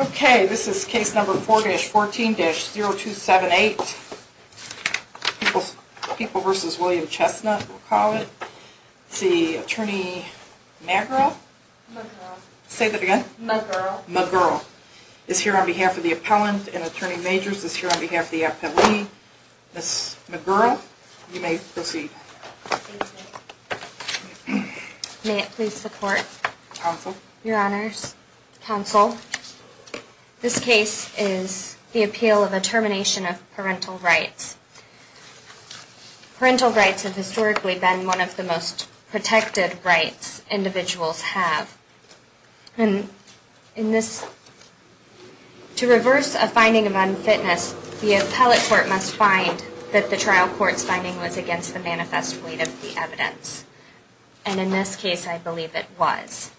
Okay, this is case number 4-14-0278, People v. William Chestnut, we'll call it. It's the attorney McGurl, say that again? McGurl. McGurl, is here on behalf of the appellant and attorney majors, is here on behalf of the appellee. Ms. McGurl, you may proceed. Thank you. May it please the court? Counsel? Your honors, counsel, this case is the appeal of a termination of parental rights. Parental rights have historically been one of the most protected rights individuals have. And in this, to reverse a finding of unfitness, the appellate court must find that the trial court's finding was against the manifest weight of the evidence. And in this case, I believe it was.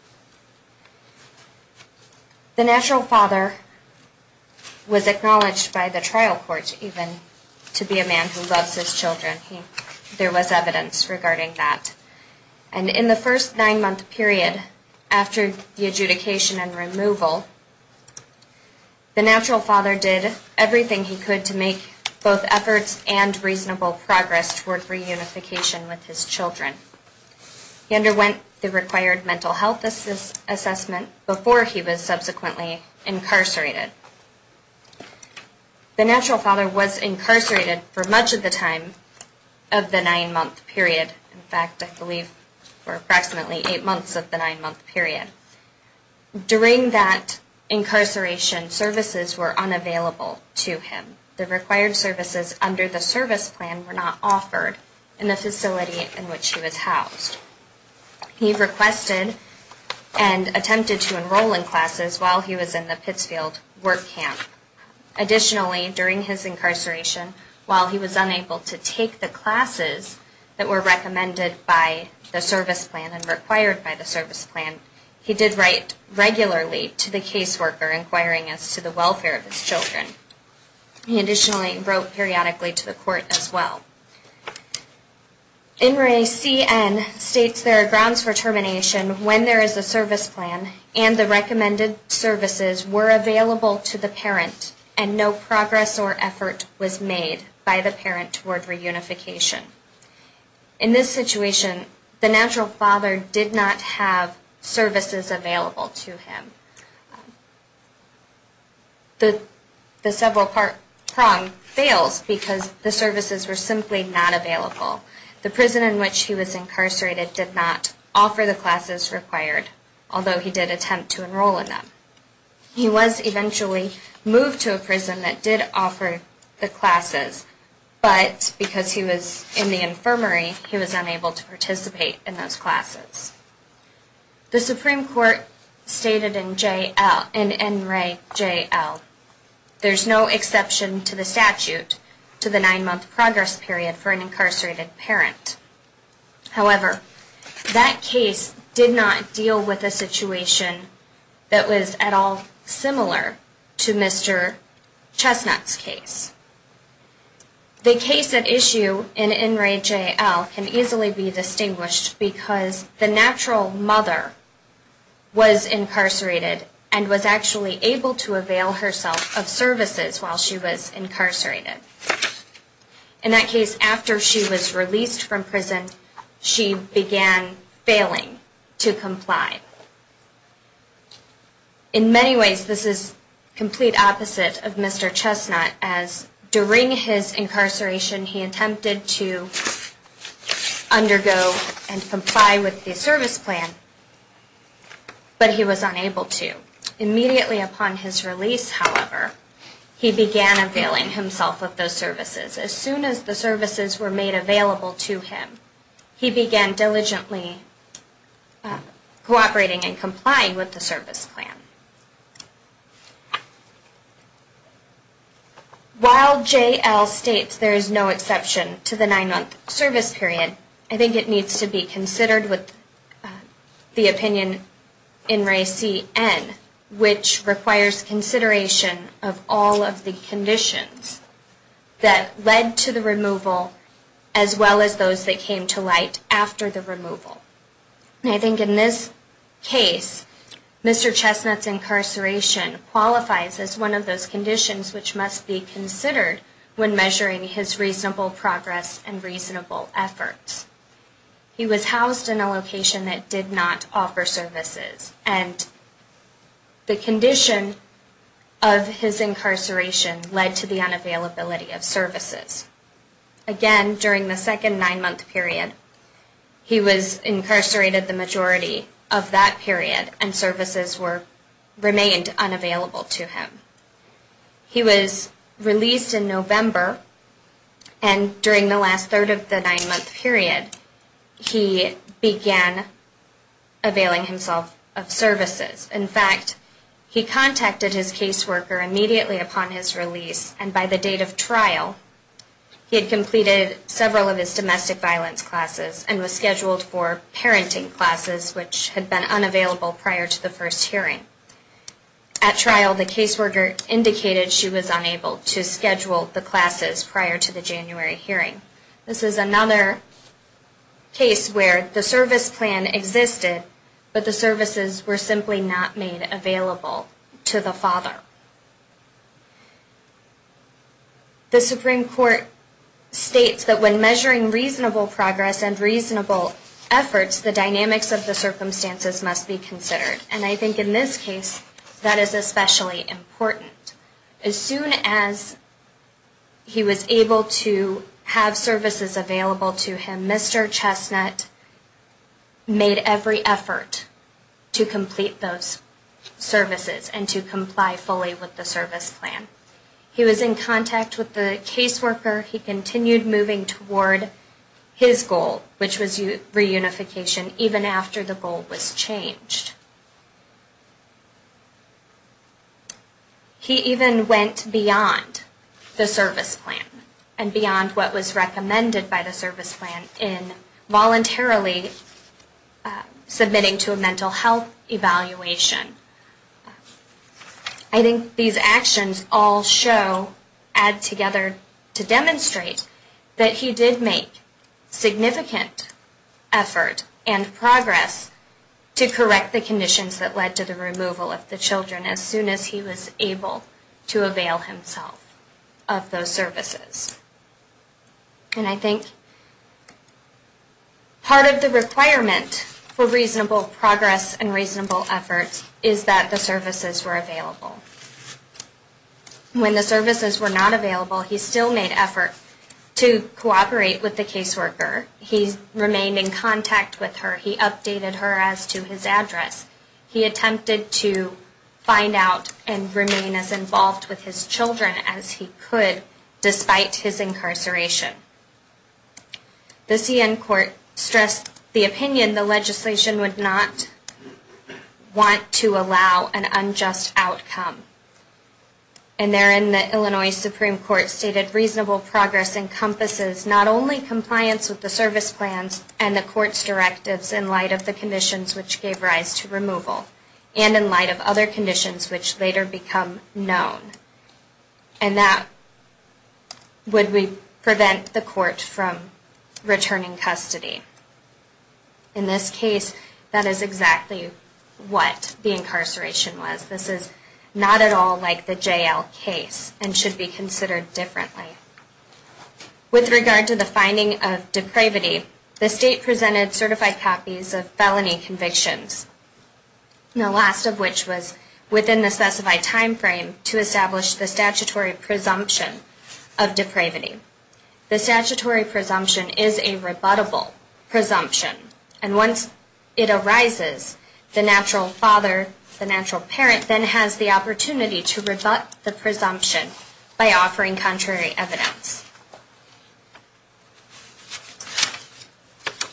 The natural father was acknowledged by the trial court even to be a man who loves his children. There was evidence regarding that. And in the first nine-month period after the adjudication and removal, the natural father did everything he could to make both efforts and reasonable progress toward reunification with his children. He underwent the required mental health assessment before he was subsequently incarcerated. The natural father was incarcerated for much of the time of the nine-month period. In fact, I believe for approximately eight months of the nine-month period. During that incarceration, services were unavailable to him. The required services under the service plan were not offered in the facility in which he was housed. He requested and attempted to enroll in classes while he was in the Pittsfield work camp. Additionally, during his incarceration, while he was unable to take the classes that were recommended by the service plan and required by the service plan, he did write regularly to the caseworker inquiring as to the welfare of his children. He additionally wrote periodically to the court as well. In Re C N states there are grounds for termination when there is a service plan and the recommended services were available to the parent and no progress or effort was made by the parent toward reunification. In this situation, the natural father did not have services available to him. The several prong fails because the services were simply not available. The prison in which he was incarcerated did not offer the classes required, although he did attempt to enroll in them. He was eventually moved to a prison that did offer the classes, but because he was in the infirmary, he was unable to participate in those classes. The Supreme Court stated in N Re J L, there is no exception to the statute to the nine-month progress period for an incarcerated parent. However, that case did not deal with a situation that was at all similar to Mr. Chestnut's case. The case at issue in N Re J L can easily be distinguished because the natural mother was incarcerated and was actually able to avail herself of services while she was incarcerated. In that case, after she was released from prison, she began failing to comply. In many ways, this is the complete opposite of Mr. Chestnut, as during his incarceration, he attempted to undergo and comply with the service plan, but he was unable to. Immediately upon his release, however, he began availing himself of those services. As soon as the services were made available to him, he began diligently cooperating and complying with the service plan. While J L states there is no exception to the nine-month service period, I think it needs to be considered with the opinion in Re C N, which requires consideration of all of the conditions that led to the removal, as well as those that came to light after the removal. I think in this case, Mr. Chestnut's incarceration qualifies as one of those conditions which must be considered when measuring his reasonable progress and reasonable efforts. He was housed in a location that did not offer services, and the condition of his incarceration led to the unavailability of services. Again, during the second nine-month period, he was incarcerated the majority of that period, and services remained unavailable to him. He was released in November, and during the last third of the nine-month period, he began availing himself of services. In fact, he contacted his caseworker immediately upon his release, and by the date of trial, he had completed several of his domestic violence classes and was scheduled for parenting classes, which had been unavailable prior to the first hearing. At trial, the caseworker indicated she was unable to schedule the classes prior to the January hearing. This is another case where the service plan existed, but the services were simply not made available to the father. The Supreme Court states that when measuring reasonable progress and reasonable efforts, the dynamics of the circumstances must be considered, and I think in this case, that is especially important. As soon as he was able to have services available to him, Mr. Chestnut made every effort to complete those services and to comply fully with the service plan. He was in contact with the caseworker. He continued moving toward his goal, which was reunification, even after the goal was changed. He even went beyond the service plan and beyond what was recommended by the service plan in voluntarily submitting to a mental health evaluation. I think these actions all show, add together to demonstrate, that he did make significant effort and progress to correct the conditions that led to the removal of the children as soon as he was able to avail himself of those services. And I think part of the requirement for reasonable progress and reasonable efforts is that the services were available. When the services were not available, he still made effort to cooperate with the caseworker. He remained in contact with her. He updated her as to his address. He attempted to find out and remain as involved with his children as he could, despite his incarceration. The C.N. Court stressed the opinion the legislation would not want to allow an unjust outcome. And therein the Illinois Supreme Court stated reasonable progress encompasses not only compliance with the service plans and the court's directives in light of the conditions which gave rise to removal, and in light of other conditions which later become known. And that would prevent the court from returning custody. In this case, that is exactly what the incarceration was. This is not at all like the J.L. case and should be considered differently. With regard to the finding of depravity, the State presented certified copies of felony convictions, the last of which was within the specified time frame to establish the statutory presumption of depravity. The statutory presumption is a rebuttable presumption. And once it arises, the natural father, the natural parent, then has the opportunity to rebut the presumption by offering contrary evidence.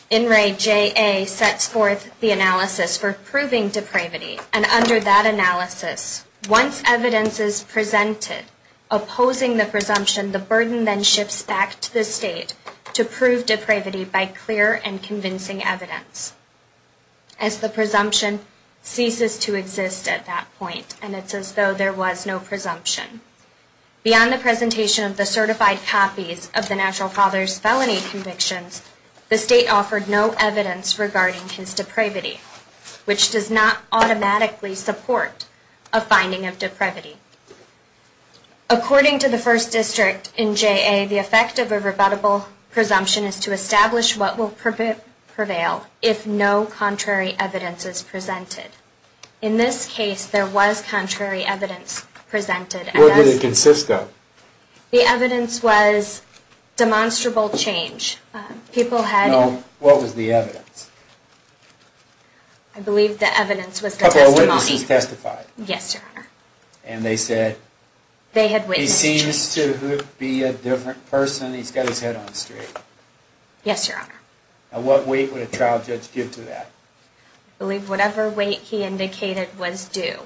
In Ray J.A. sets forth the analysis for proving depravity. And under that analysis, once evidence is presented opposing the presumption, the burden then shifts back to the State to prove depravity by clear and convincing evidence. As the presumption ceases to exist at that point, and it's as though there was no presumption. Beyond the presentation of the certified copies of the natural father's felony convictions, the State offered no evidence regarding his depravity, which does not automatically support a finding of depravity. According to the First District in J.A., the effect of a rebuttable presumption is to establish what will prevail if no contrary evidence is presented. In this case, there was contrary evidence presented. What did it consist of? The evidence was demonstrable change. What was the evidence? A couple of witnesses testified. And they said he seems to be a different person. He's got his head on straight. What weight would a trial judge give to that? I believe whatever weight he indicated was due,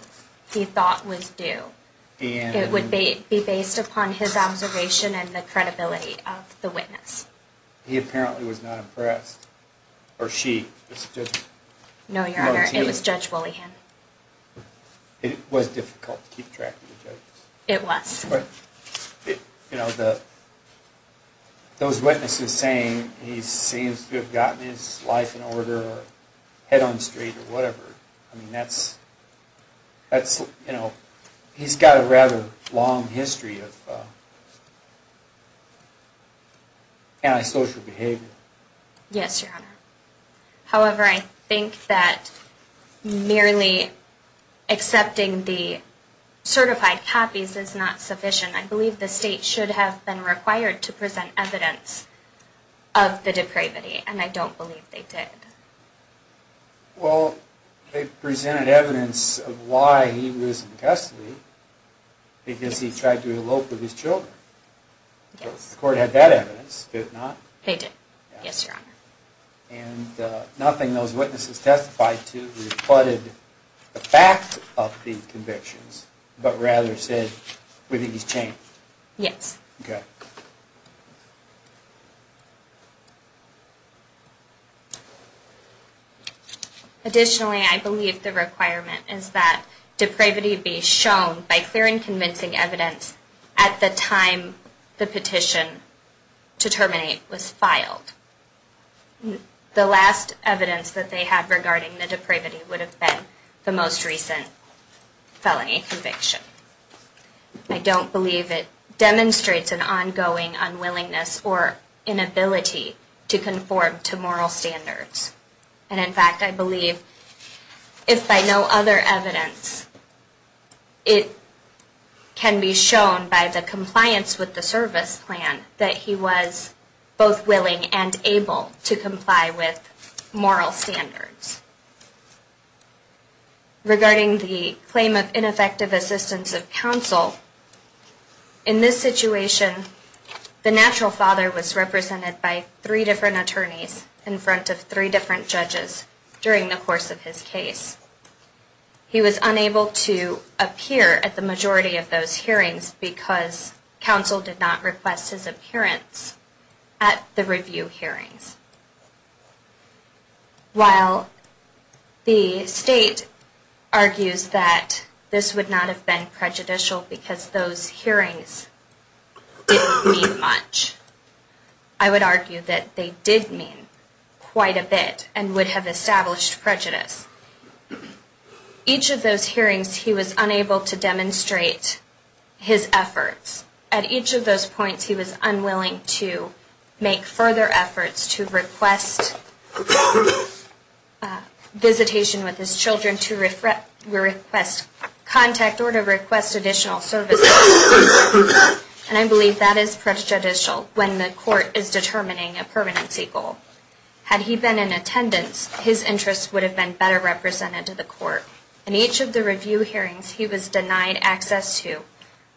he thought was due. It would be based upon his observation and the credibility of the witness. He apparently was not impressed. No, Your Honor, it was Judge Wollehan. It was difficult to keep track of the judge. Those witnesses saying he seems to have gotten his life in order or head on straight or whatever, he's got a rather long history of antisocial behavior. Yes, Your Honor. However, I think that merely accepting the certified copies is not sufficient. I believe the State should have been required to present evidence of the depravity, and I don't believe they did. Well, they presented evidence of why he was in custody, because he tried to elope with his children. The court had that evidence, did it not? And nothing those witnesses testified to rebutted the fact of the convictions, but rather said, we think he's changed. Yes. Additionally, I believe the requirement is that depravity be shown by clear and convincing evidence at the time the petition to terminate was filed. The last evidence that they had regarding the depravity would have been the most recent felony conviction. I don't believe it demonstrates an ongoing unwillingness or inability to conform to moral standards. And in fact, I believe if by no other evidence it can be shown by the compliance with the service plan that he was both willing and able to comply with moral standards. Regarding the claim of ineffective assistance of counsel, in this situation the natural father was represented by three different attorneys in front of three different judges during the course of his case. He was unable to appear at the majority of those hearings because counsel did not request his appearance at the review hearings. While the state argues that this would not have been prejudicial because those hearings didn't mean much, I would argue that they did mean quite a bit and would have established prejudice. Each of those hearings he was unable to demonstrate his efforts. At each of those points he was unwilling to make further efforts to request visitation with his children, to request contact, or to request additional services. And I believe that is prejudicial when the court is determining a permanency goal. Had he been in attendance, his interest would have been better represented to the court. And each of the review hearings he was denied access to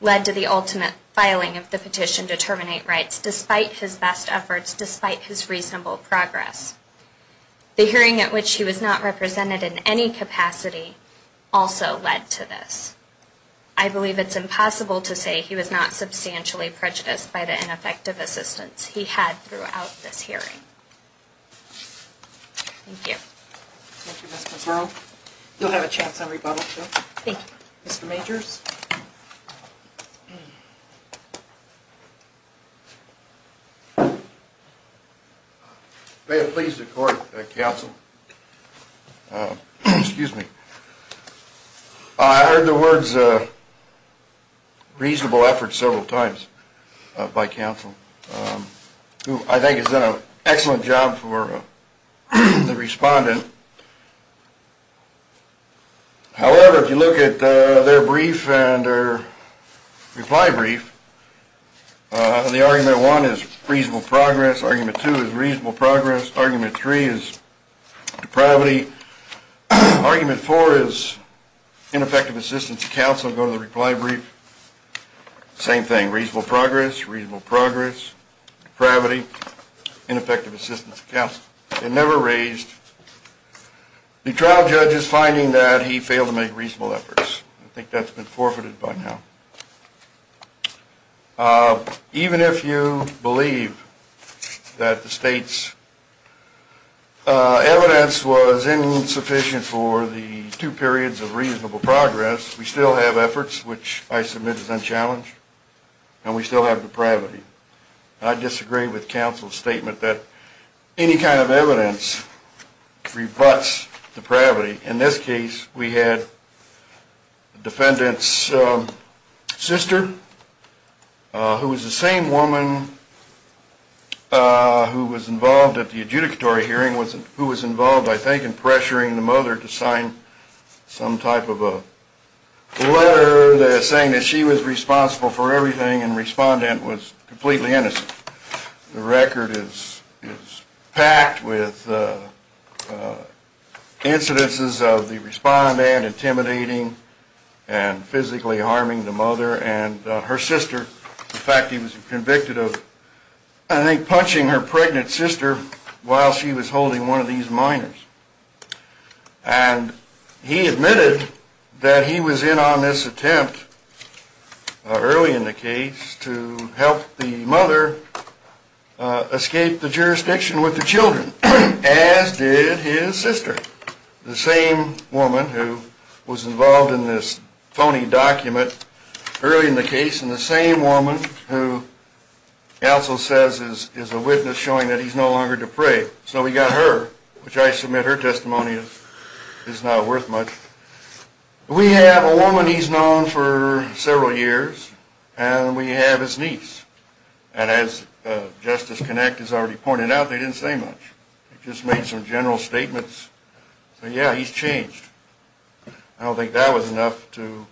led to the ultimate filing of the petition to terminate rights despite his best efforts, despite his reasonable progress. The hearing at which he was not represented in any capacity also led to this. I believe it's impossible to say he was not substantially prejudiced by the ineffective assistance he had throughout this hearing. However, if you look at their brief and their reply brief, the argument one is reasonable progress, argument two is reasonable progress, argument three is depravity. Argument four is ineffective assistance to counsel. Go to the reply brief. Same thing, reasonable progress, reasonable progress, depravity, ineffective assistance to counsel. They never raised the trial judge's finding that he failed to make reasonable efforts. I think that's been forfeited by now. Even if you believe that the state's evidence was insufficient for the two periods of reasonable progress, we still have efforts, which I submit is unchallenged, and we still have depravity. I disagree with counsel's statement that any kind of evidence rebuts depravity. In this case, we had the defendant's sister, who was the same woman who was involved at the adjudicatory hearing, who was involved, I think, in pressuring the mother to sign some type of a letter saying that she was responsible for everything and the respondent was completely innocent. The record is packed with incidences of the respondent intimidating and physically harming the mother and her sister. In fact, he was convicted of I think punching her pregnant sister while she was holding one of these minors. And he admitted that he was in on this attempt early in the case to help the mother escape the jurisdiction with the children, as did his wife, who is a witness showing that he's no longer depraved. So we got her, which I submit her testimony is not worth much. We have a woman he's known for several years, and we have his niece. And as Justice Kinect has already pointed out, they didn't say much. They just made some general statements saying, yeah, he's changed. I don't think that was enough to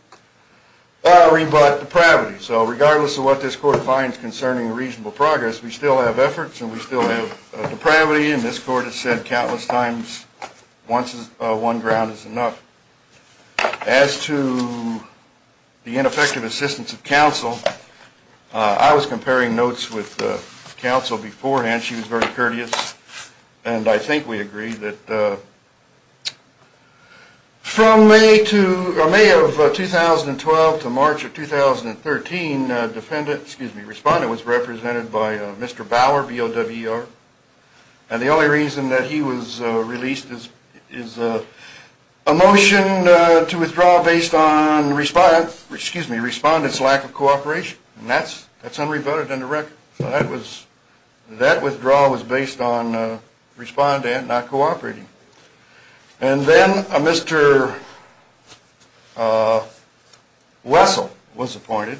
rebut depravity. So regardless of what this court finds concerning reasonable progress, we still have efforts and we still have depravity, and this court has said countless times one ground is enough. As to the ineffective assistance of counsel, I was comparing notes with counsel. She was very courteous, and I think we agree that from May of 2012 to March of 2013, Respondent was represented by Mr. Bauer, B-O-W-E-R. And the only reason that he was released is a motion to withdraw based on Respondent's lack of cooperation. And that's unrebutted in the record. So that withdrawal was based on Respondent not cooperating. And then Mr. Wessel was appointed.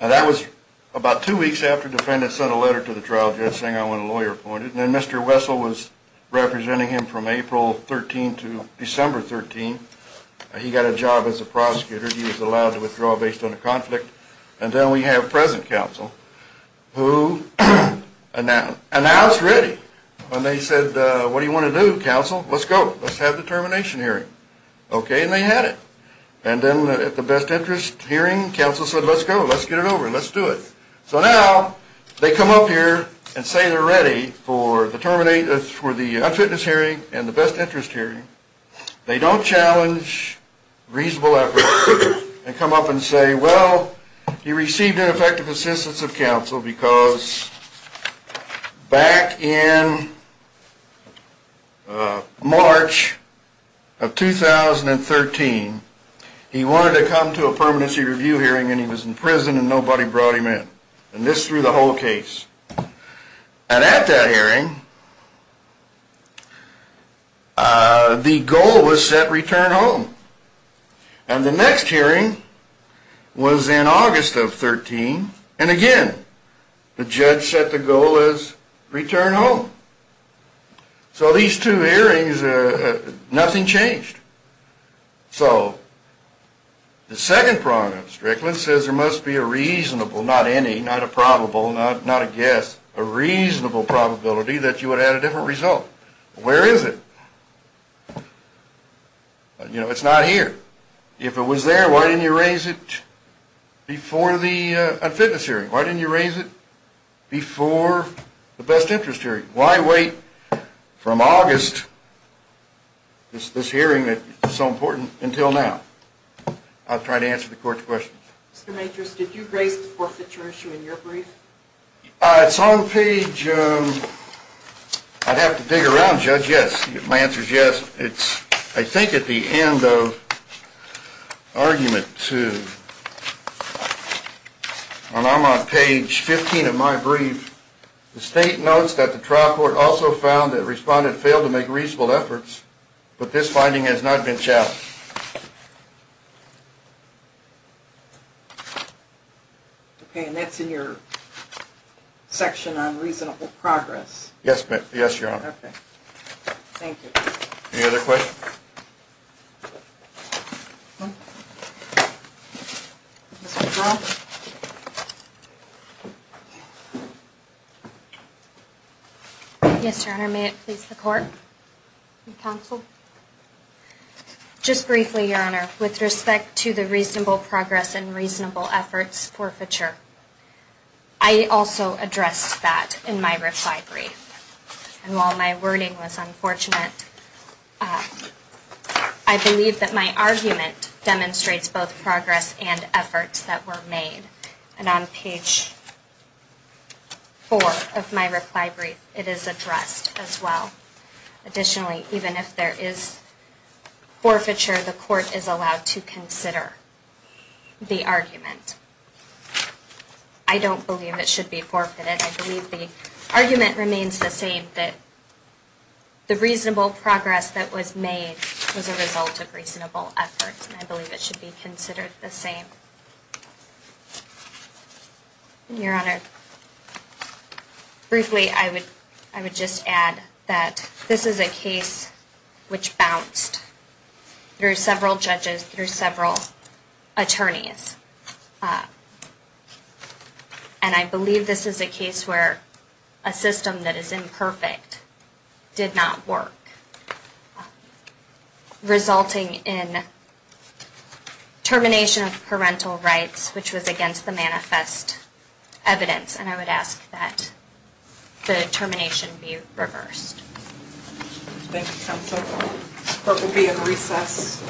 And that was about two weeks after Defendant sent a letter to the trial judge saying I want a lawyer appointed. And then Mr. Wessel was representing him from April 13 to May of 2013. And then we have present counsel who announced ready. And they said what do you want to do, counsel? Let's go. Let's have the termination hearing. Okay, and they had it. And then at the best interest hearing, counsel said let's go. Let's get it over and let's do it. So now they come up here and say they're ready for the unfitness hearing and the best interest hearing. They don't challenge reasonable effort and come up and say well, he received ineffective assistance of counsel because back in March of 2013, he wanted to come to a permanency review hearing and he was in prison and nobody brought him in. And this threw the whole case. And at that hearing the goal was set return home. And the next hearing was in August of 13 and again the judge set the goal as return home. So these two hearings nothing changed. So the second problem, Strickland says there must be a reasonable, not any, not a probable, not a guess, a reasonable probability that you would have a different result. Where is it? You know, it's not here. If it was there, why didn't you raise it before the unfitness hearing? Why didn't you raise it before the best interest hearing? Why wait from August this hearing that is so important until now? I'll try to answer the court's questions. It's on page, I'd have to dig around, judge, yes. My answer is yes. It's I think at the end of argument two. And I'm on page 15 of my brief. The state notes that the trial court also found that respondents failed to make reasonable efforts, but this finding has not been challenged. Okay, and that's in your section on reasonable progress. Yes, your honor. Any other questions? Yes, your honor. Yes, your honor. May it please the court and counsel? Just briefly, your honor, with respect to the reasonable progress and reasonable efforts forfeiture, I also addressed that in my brief. I believe that my argument demonstrates both progress and efforts that were made. And on page four of my reply brief, it is addressed as well. Additionally, even if there is forfeiture, the court is allowed to consider the argument. I don't believe it should be forfeited. I believe the argument remains the same, that the reasonable progress that was made was a result of reasonable efforts. And I believe it should be considered the same. Your honor, briefly, I would just add that this is a case which bounced through several judges, through several attorneys. And I believe this is a case where a system that is imperfect did not work, resulting in termination of parental rights, which was against the manifest evidence. And I would ask that the termination be reversed. Thank you, counsel. The court will be in recess.